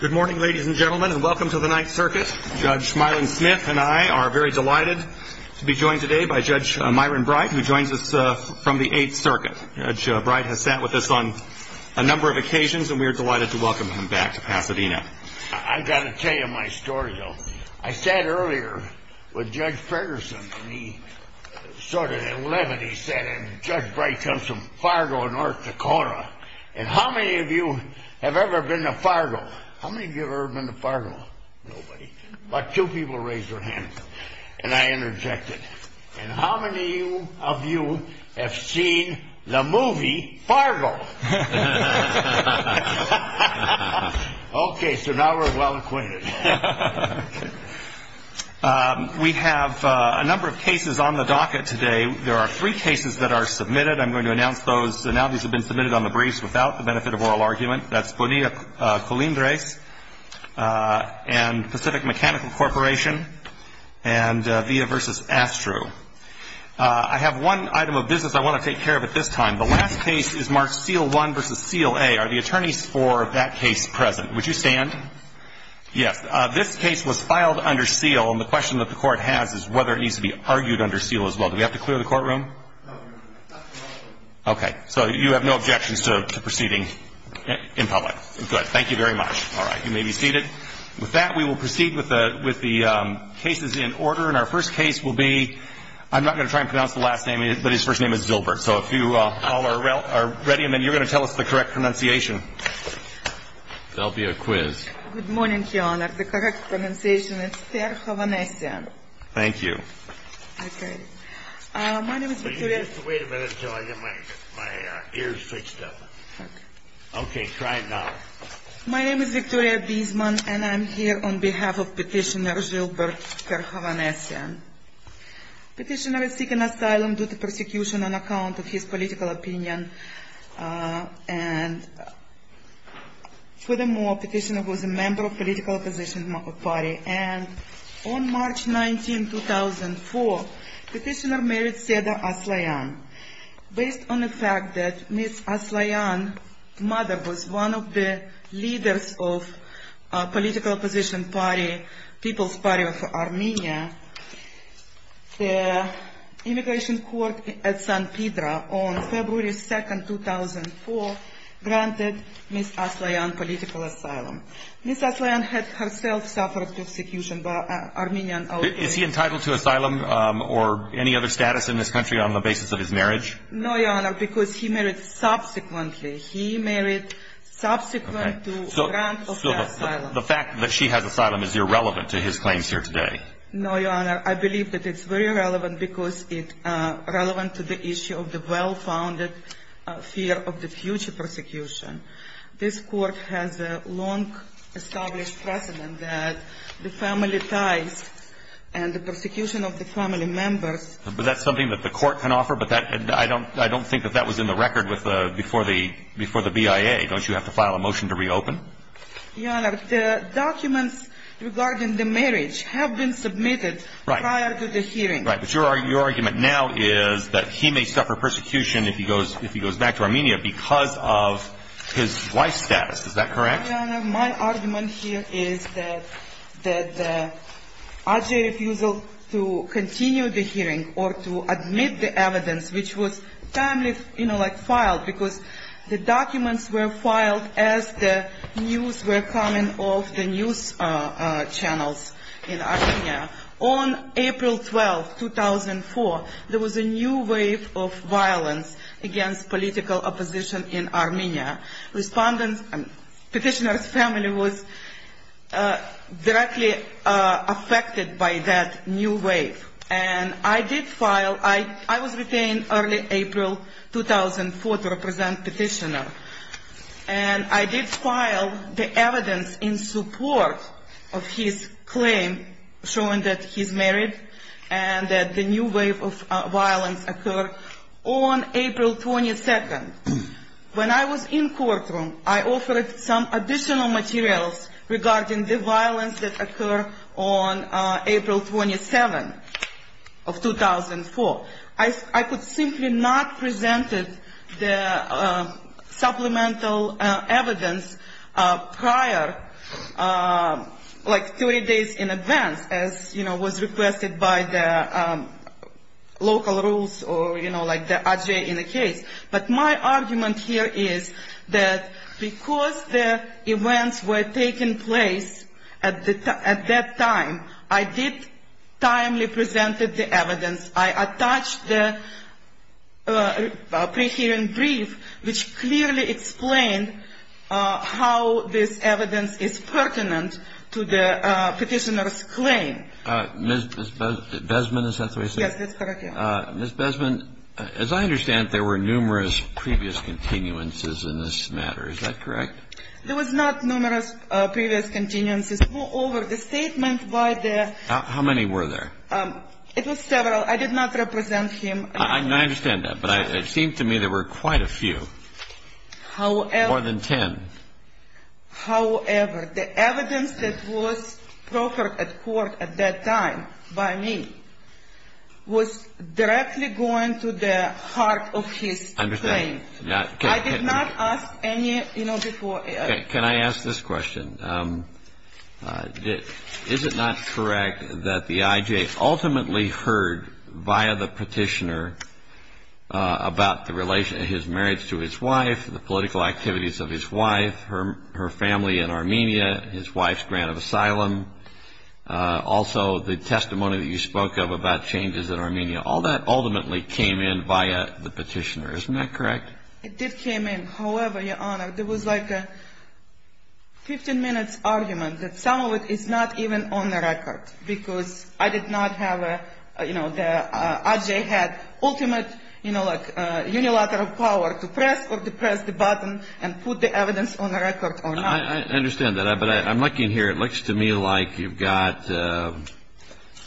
Good morning ladies and gentlemen and welcome to the Ninth Circuit. Judge Myron Smith and I are very delighted to be joined today by Judge Myron Bright who joins us from the Eighth Circuit. Judge Bright has sat with us on a number of occasions and we are delighted to welcome him back to Pasadena. I've got to tell you my story though. I sat earlier with Judge Ferguson and he started at 11 he said and Judge Bright comes from Fargo, North Dakota. And how many of you have ever been to Fargo? How many of you have ever been to Fargo? Nobody. About two people raised their hands and I interjected. And how many of you have seen the movie Fargo? Okay so now we're well acquainted. We have a number of cases on the docket today. There are three cases that are submitted. I'm going to announce those now these have been submitted on the briefs without the benefit of oral argument. That's Bonilla-Colindres and Pacific Mechanical Corporation and Villa versus Astru. I have one item of business I want to take care of at this time. The last case is Mark Seal 1 versus Seal A. Are the attorneys for that case present? Would you stand? Yes. This case was filed under seal and the question that the court has is whether it needs to be argued under seal as well. Do we have to clear the courtroom? No. Okay so you have no objections to proceeding in public. Good. Thank you very much. All right you may be seated. With that we will proceed with the cases in order and our first case will be I'm not going to try and pronounce the last name but his first name is Zilbert so if you all are ready and then you're going to tell us the correct pronunciation. That'll be great. Wait a minute until I get my ears fixed up. Okay try it now. My name is Victoria Biesman and I'm here on behalf of Petitioner Zilbert Kerhovanesyan. Petitioner is seeking asylum due to persecution on account of his political opinion and furthermore Petitioner was a member of political opposition party and on March 19, 2004 Petitioner married Seda Aslayan. Based on the fact that Ms. Aslayan's mother was one of the leaders of political opposition party, People's Party of Armenia, the immigration court at San Pedro on February 2, 2004 granted Ms. Aslayan political asylum. Ms. Aslayan had herself suffered persecution by Armenian authorities. Is he entitled to asylum or any other status in this country on the basis of his marriage? No, Your Honor, because he married subsequently. He married subsequent to the grant of asylum. So the fact that she has asylum is irrelevant to his claims here today? No, Your Honor, I believe that it's very relevant because it's relevant to the issue of the well-founded fear of the future persecution. This court has a long established precedent that the family ties and the persecution of the family members But that's something that the court can offer, but I don't think that that was in the record with the, before the BIA. Don't you have to file a motion to reopen? Your Honor, the documents regarding the marriage have been submitted prior to the hearing. Right, but your argument now is that he may suffer persecution if he goes back to Armenia because of his wife's status. Is that correct? Your Honor, my argument here is that the RGA refusal to continue the hearing or to admit the evidence, which was timely, you know, like filed, because the documents were filed as the news were coming off the news channels in Armenia. On April 12, 2012, the RGA refused to continue the hearing. On April 12, 2004, there was a new wave of violence against political opposition in Armenia. Respondents, petitioner's family was directly affected by that new wave. And I did file, I was retained early April 2004 to represent petitioner. And I did file the evidence in support of his claim showing that he's married and that the new wave of violence occurred on April 22. When I was in courtroom, I offered some additional materials regarding the violence that occurred on April 27 of 2004. I could simply not present the supplemental evidence prior, like 30 days in advance, as was requested by the local rules or the RGA in the case. But my argument here is that because the events were taking place at that time, I did timely present the evidence. I attached the pre-hearing brief which clearly explained how this evidence is pertinent to the petitioner's claim. Ms. Besman, is that the way you say it? Yes, that's correct. Ms. Besman, as I understand, there were numerous previous continuances in this matter. Is that correct? There was not numerous previous continuances. Moreover, the statement by the... How many were there? It was several. I did not represent him. I understand that, but it seemed to me there were quite a few. However... More than 10. However, the evidence that was proffered at court at that time by me was directly going to the heart of his claim. I did not ask any... Can I ask this question? Is it not correct that the IJ ultimately heard via the petitioner about his marriage to his wife, the political activities of his wife, her family in Armenia, his wife's grant of asylum, also the testimony that you spoke of about changes in Armenia, all that ultimately came in via the petitioner. Isn't that correct? It did come in. However, Your Honor, there was like a 15-minute argument that some of the IJ had ultimate unilateral power to press the button and put the evidence on the record or not. I understand that, but I'm looking here. It looks to me like you've got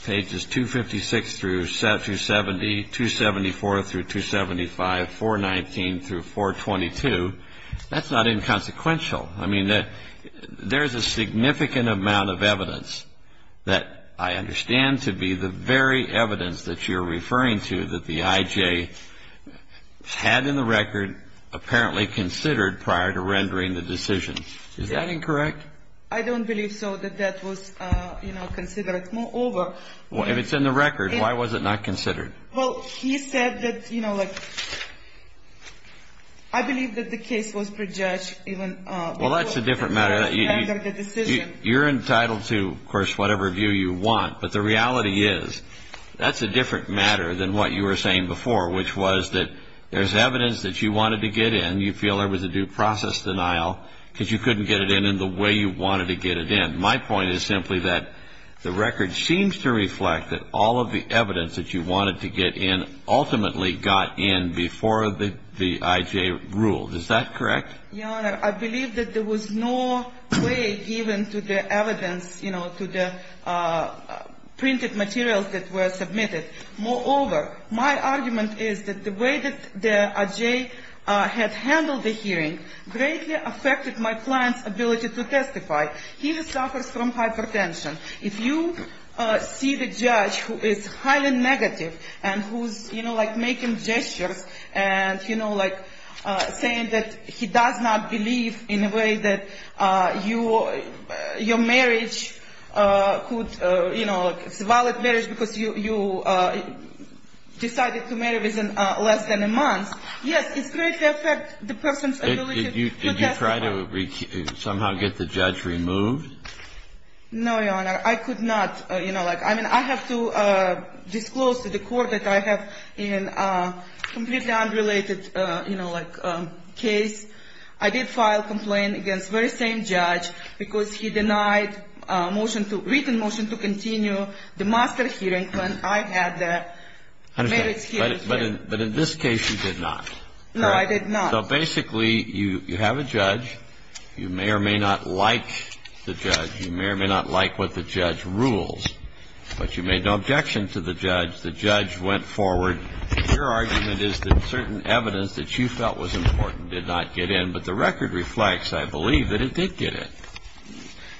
pages 256-270, 274-275, 419-422. That's not inconsequential. I mean, there's a significant amount of evidence that I understand to be the very evidence that you're referring to that the IJ had in the record apparently considered prior to rendering the decision. Is that incorrect? I don't believe so, that that was considered. Moreover... If it's in the record, why was it not considered? Well, he said that, you know, like... I believe that the case was prejudged even... Well, that's a different matter. ...before the judge rendered the decision. You're entitled to, of course, whatever view you want. But the reality is, that's a different matter than what you were saying before, which was that there's evidence that you wanted to get in. You feel there was a due process denial because you couldn't get it in in the way you wanted to get it in. My point is simply that the record seems to reflect that all of the evidence that you wanted to get in ultimately got in before the IJ ruled. Is that correct? Your Honor, I believe that there was no way given to the evidence, you know, to the printed materials that were submitted. Moreover, my argument is that the way that the IJ had handled the hearing greatly affected my client's ability to testify. He suffers from hypertension. If you see the judge who is highly negative and who's, you know, like making gestures and, you know, like saying that he does not believe in a way that your marriage could, you know, it's a valid marriage because you decided to marry within less than a month. Yes, it greatly affected the person's ability to testify. Did you try to somehow get the judge removed? No, Your Honor. I could not. You know, like, I mean, I have to disclose to the court that I have completely unrelated, you know, like, case. I did file complaint against very same judge because he denied motion to written motion to continue the master hearing when I had the marriage hearing. But in this case, you did not. No, I did not. So basically, you have a judge. You may or may not like the judge. You may or may not like what the judge rules. But you made no objection to the judge. The judge went forward. Your argument is that certain evidence that you felt was important did not get in. But the record reflects, I believe, that it did get in.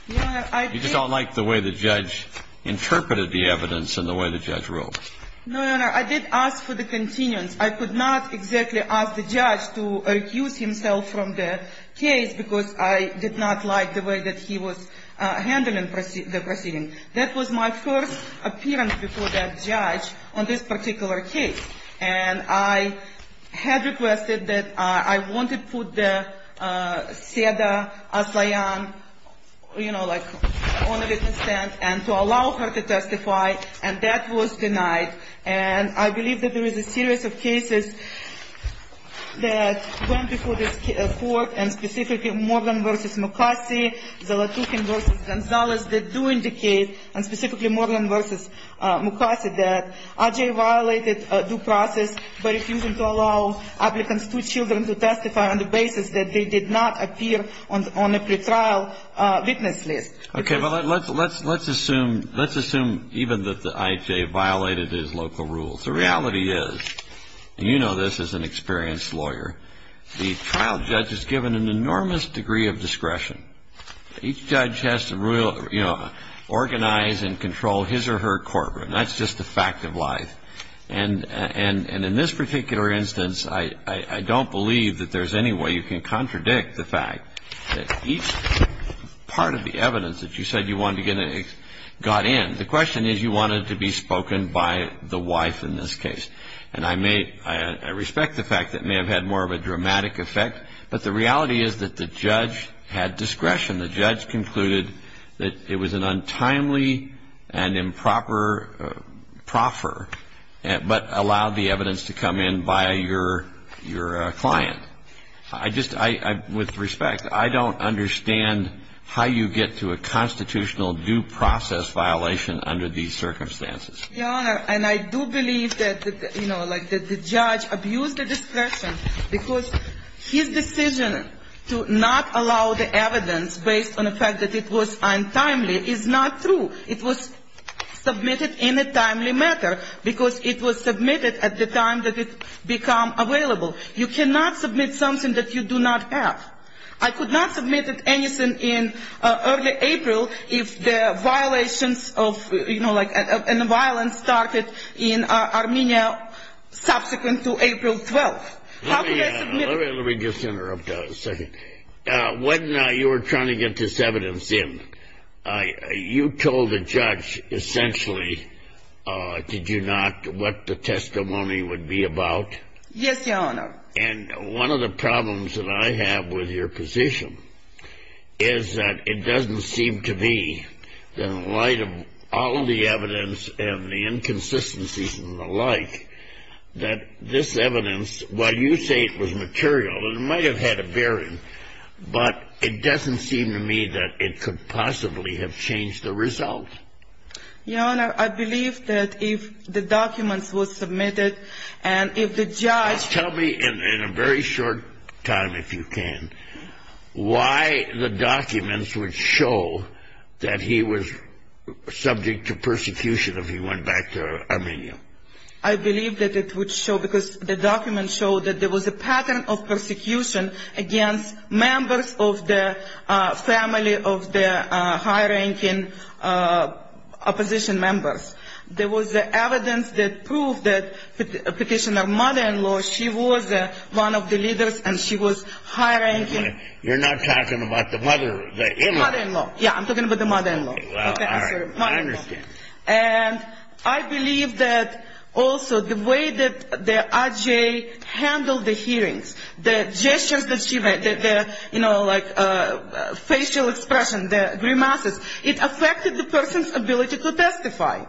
You just don't like the way the judge interpreted the evidence and the way the judge ruled. No, Your Honor. I did ask for the continuance. I could not exactly ask the judge to recuse himself from the case because I did not like the way that he was handling the proceeding. That was my first appearance before that judge on this particular case. And I had requested that I wanted to put the SEDA assignment, you know, like, on a witness stand and to allow her to testify. And that was denied. And I believe that there is a series of cases that went before this court and specifically Moreland v. Mukasey, Zalatukhin v. Gonzalez, that do indicate, and specifically Moreland v. Mukasey, that I.J. violated due process by refusing to allow applicants' two children to testify on the basis that they did not appear on a pretrial witness list. Okay. Well, let's assume even that I.J. violated his local rules. The reality is, and you know this as an experienced lawyer, the trial judge is given an enormous burden of responsibility and an enormous degree of discretion. Each judge has to, you know, organize and control his or her courtroom. That's just a fact of life. And in this particular instance, I don't believe that there's any way you can contradict the fact that each part of the evidence that you said you wanted to get got in. The question is, you wanted to be spoken by the wife in this case. And I respect the fact that it may have had more of a dramatic effect, but the reality is that the judge had discretion. The judge concluded that it was an untimely and improper proffer, but allowed the evidence to come in by your client. With respect, I don't understand how you get to a constitutional due process violation under these circumstances. Your Honor, and I do believe that, you know, like the judge abused the discretion because his decision to not allow the evidence based on the fact that it was untimely is not true. It was submitted in a timely matter because it was submitted at the time that it become available. You cannot submit something that you do not have. I could not submit anything in early April if the violations of, you know, like, and the violence started in Armenia subsequent to April 12th. Let me just interrupt a second. When you were trying to get this evidence in, you told the judge essentially, did you not, what the testimony would be about? Yes, Your Honor. And one of the problems that I have with your position is that it doesn't seem to me, in light of all the evidence and the inconsistencies and the like, that this evidence, while you say it was material, it might have had a bearing, but it doesn't seem to me that it could possibly have changed the result. Your Honor, I believe that if the documents were submitted and if the judge... Tell me in a very short time, if you can, why the documents would show that he was subject to persecution if he went back to Armenia. I believe that it would show because the documents show that there was a pattern of persecution against members of the family of the high-ranking opposition members. There was evidence that proved that Petitioner's mother-in-law, she was one of the leaders and she was high-ranking... You're not talking about the mother, the in-law. Mother-in-law, yeah, I'm talking about the mother-in-law. Okay, well, all right, I understand. And I believe that also the way that the RGA handled the hearings, the gestures that she made, the, you know, like, facial expression, the grimaces, it affected the person's ability to testify.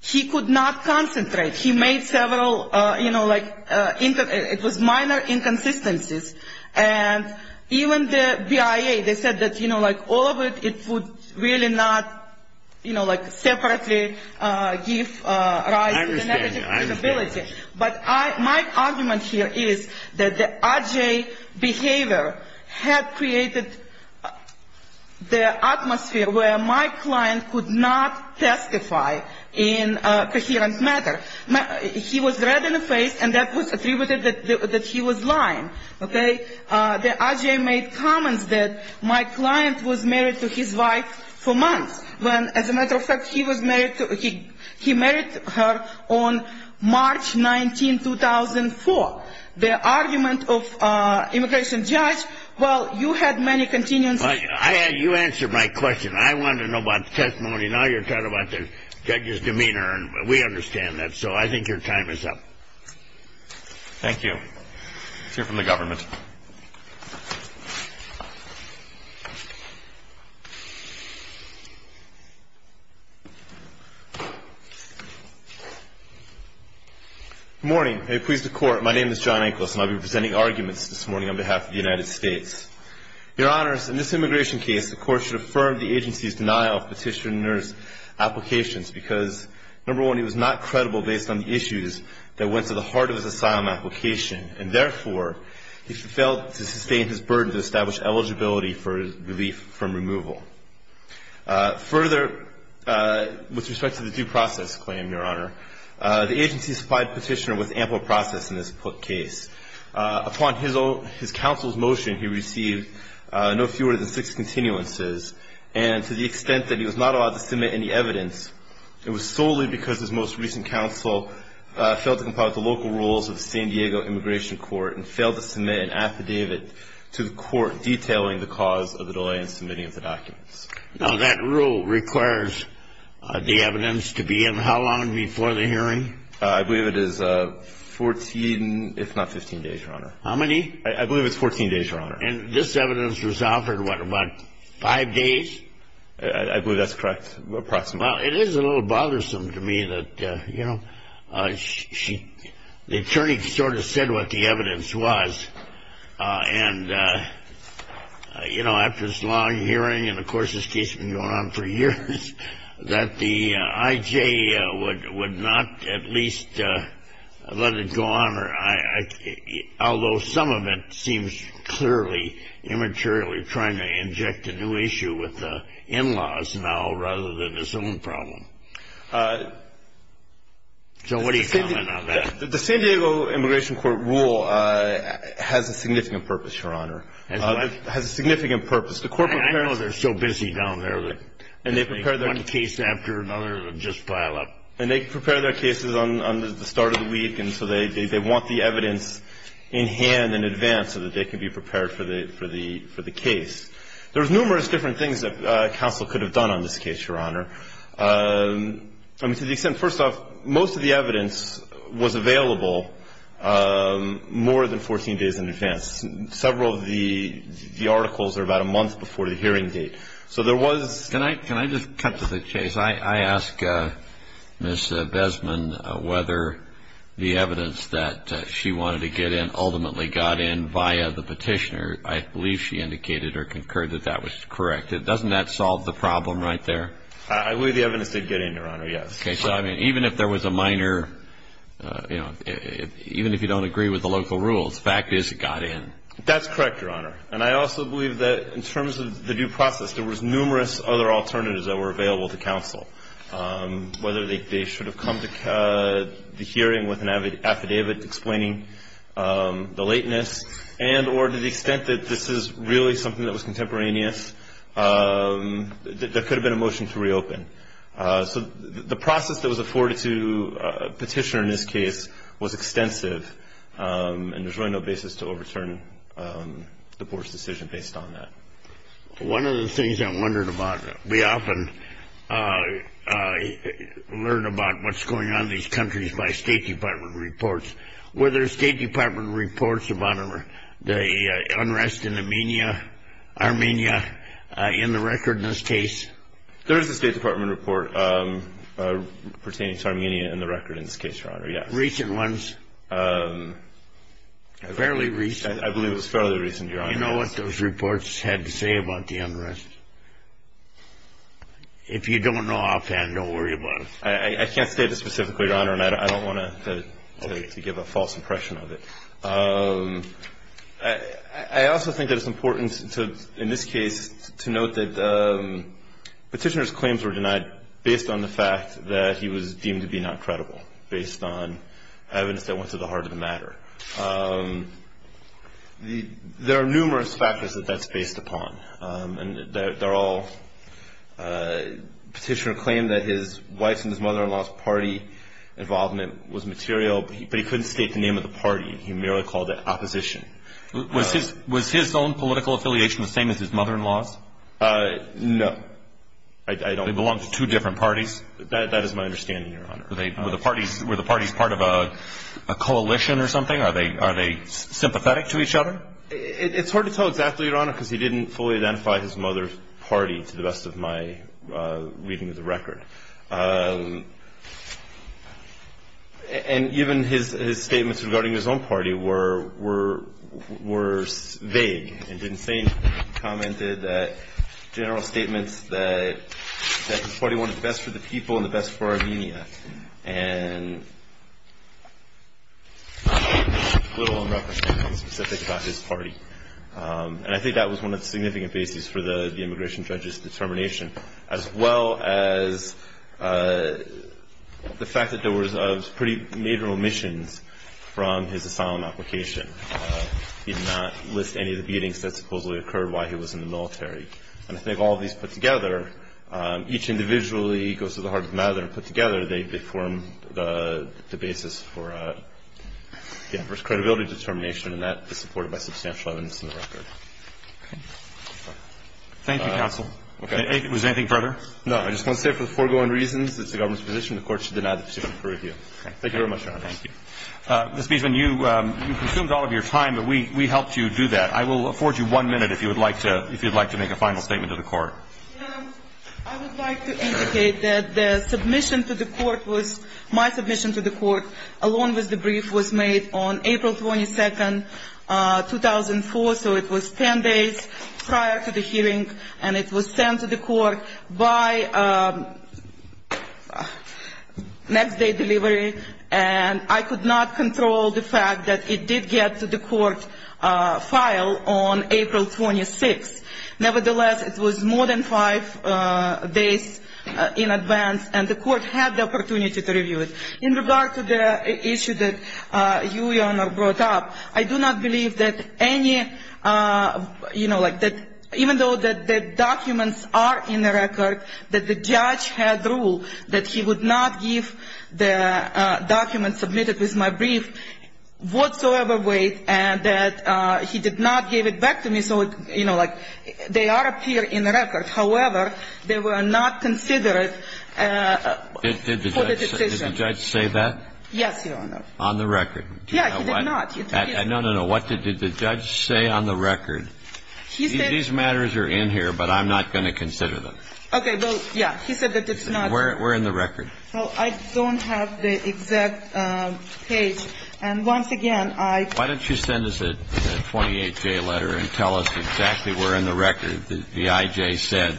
He could not concentrate. He made several, you know, like, it was minor inconsistencies. And even the BIA, they said that, you know, like, all of it, it would really not... You know, like, separately give rise to the negative credibility. But my argument here is that the RGA behavior had created the atmosphere where my client could not testify in a coherent manner. He was red in the face and that was attributed that he was lying, okay? The RGA made comments that my client was married to his wife for months. As a matter of fact, he married her on March 19, 2004. The argument of immigration judge, well, you had many continuance... You answered my question. I wanted to know about the testimony. Now you're talking about the judge's demeanor and we understand that, so I think your time is up. Thank you. Let's hear from the government. Good morning. May it please the court. My name is John Anklos and I'll be presenting arguments this morning on behalf of the United States. Your honors, in this immigration case, the court should affirm the agency's denial of petitioner's applications because, number one, he was not credible based on the issues that went to the heart of his asylum application. And therefore, he failed to sustain his burden to establish eligibility for relief from removal. Further, with respect to the due process claim, your honor, the agency supplied petitioner with ample process in this case. Upon his counsel's motion, he received no fewer than six continuances and to the extent that he was not allowed to submit any evidence, it was solely because his most recent counsel failed to comply with the local rules of the San Diego Immigration Court and failed to submit an affidavit to the court detailing the cause of the delay in submitting of the documents. Now, that rule requires the evidence to be in how long before the hearing? I believe it is 14, if not 15 days, your honor. How many? And this evidence was offered, what, about five days? I believe that's correct, approximately. Well, it is a little bothersome to me that, you know, the attorney sort of said what the evidence was. And, you know, after this long hearing, and of course this case had been going on for years, that the I.J. would not at least let it go on, although some of it seems clearly immaterially trying to inject a new issue with the in-laws now, rather than his own problem. So what do you comment on that? The San Diego Immigration Court rule has a significant purpose, your honor. It has a significant purpose. I know they're so busy down there that one case after another will just pile up. And they prepare their cases on the start of the week, and so they want the evidence in hand in advance so that they can be prepared for the case. There's numerous different things that counsel could have done on this case, your honor. I mean, to the extent, first off, most of the evidence was available more than 14 days in advance. Several of the articles are about a month before the hearing date. Can I just cut to the chase? I asked Ms. Besman whether the evidence that she wanted to get in ultimately got in via the petitioner. I believe she indicated or concurred that that was correct. Doesn't that solve the problem right there? I believe the evidence did get in, your honor, yes. Even if you don't agree with the local rules, the fact is it got in. That's correct, your honor. And I also believe that in terms of the due process, there was numerous other alternatives that were available to counsel, whether they should have come to the hearing with an affidavit explaining the lateness, and or to the extent that this is really something that was contemporaneous, there could have been a motion to reopen. So the process that was afforded to a petitioner in this case was extensive, and there's really no basis to overturn the court's decision based on that. One of the things I wondered about, we often learn about what's going on in these countries by State Department reports. Were there State Department reports about the unrest in Armenia in the record in this case? There is a State Department report pertaining to Armenia in the record in this case, your honor, yes. Recent ones? Fairly recent. You know what those reports had to say about the unrest? If you don't know offhand, don't worry about it. I can't state it specifically, your honor, and I don't want to give a false impression of it. I also think that it's important in this case to note that the petitioner's claims were denied based on the fact that he was deemed to be not credible, based on evidence that went to the heart of the matter. There are numerous factors that that's based upon, and they're all petitioner claimed that his wife's and his mother-in-law's party involvement was material, but he couldn't state the name of the party. He merely called it opposition. Was his own political affiliation the same as his mother-in-law's? No. They belong to two different parties? That is my understanding, your honor. Were the parties part of a coalition or something? Are they sympathetic to each other? It's hard to tell exactly, your honor, because he didn't fully identify his mother's party to the best of my reading of the record. And even his statements regarding his own party were vague and didn't say anything. He commented that general statements that his party wanted the best for the people and the best for Armenia. And little in reference to anything specific about his party. And I think that was one of the significant bases for the immigration judge's determination, as well as the fact that there was pretty major omissions from his asylum application. He did not list any of the beatings that supposedly occurred while he was in the military. And I think all of these put together, each individually goes to the heart of the matter and put together, they form the basis for credibility determination, and that is supported by substantial evidence in the record. Thank you, counsel. Was there anything further? No. I just want to say for the foregoing reasons, it's the government's position, the court should deny the position for review. Thank you very much, your honor. Thank you. Ms. Biesman, you consumed all of your time, but we helped you do that. I will afford you one minute if you would like to make a final statement to the court. I would like to indicate that the submission to the court was, my submission to the court, along with the brief was made on April 22nd, 2004, so it was 10 days prior to the hearing, and it was sent to the court by next day delivery, and I could not control the fact that it did get to the court file on April 26th. Nevertheless, it was more than five days in advance, and the court had the opportunity to review it. In regard to the issue that you, your honor, brought up, I do not believe that any, even though the documents are in the record, that the judge had rule that he would not give the document submitted with my brief whatsoever weight, and that he did not give it back to me, so, you know, like, they are up here in the record. However, they were not considered for the decision. Did the judge say that? Yes, your honor. On the record? Yeah, he did not. No, no, no. What did the judge say on the record? He said these matters are in here, but I'm not going to consider them. Okay, well, yeah. He said that it's not. Where in the record? Well, I don't have the exact page, and once again, I. Why don't you send us a 28J letter and tell us exactly where in the record the IJ said,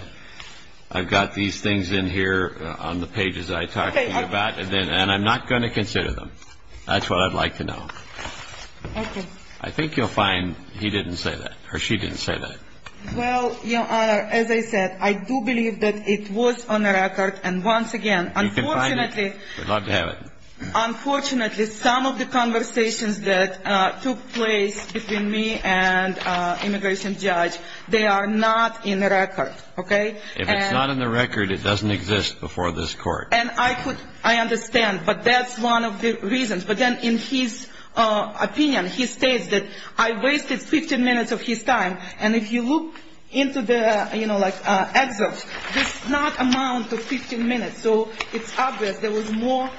I've got these things in here on the pages I talked to you about, and I'm not going to consider them. That's what I'd like to know. Okay. I think you'll find he didn't say that, or she didn't say that. Well, your honor, as I said, I do believe that it was on the record, and once again. You can find it. Unfortunately. We'd love to have it. Unfortunately, some of the conversations that took place between me and immigration judge, they are not in the record. Okay? If it's not in the record, it doesn't exist before this court. And I understand, but that's one of the reasons. But then in his opinion, he states that I wasted 15 minutes of his time, and if you look into the excerpts, there's not amount of 15 minutes. So it's obvious there was more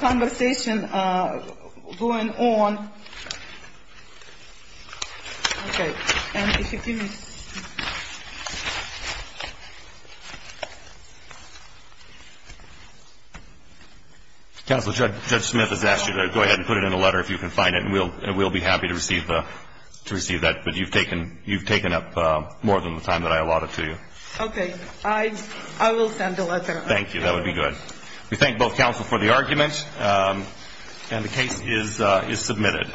conversation going on. Okay. And if you give me. Counsel, Judge Smith has asked you to go ahead and put it in a letter if you can find it, and we'll be happy to receive that. But you've taken up more than the time that I allotted to you. Okay. I will send a letter. Thank you. That would be good. We thank both counsel for the argument, and the case is submitted.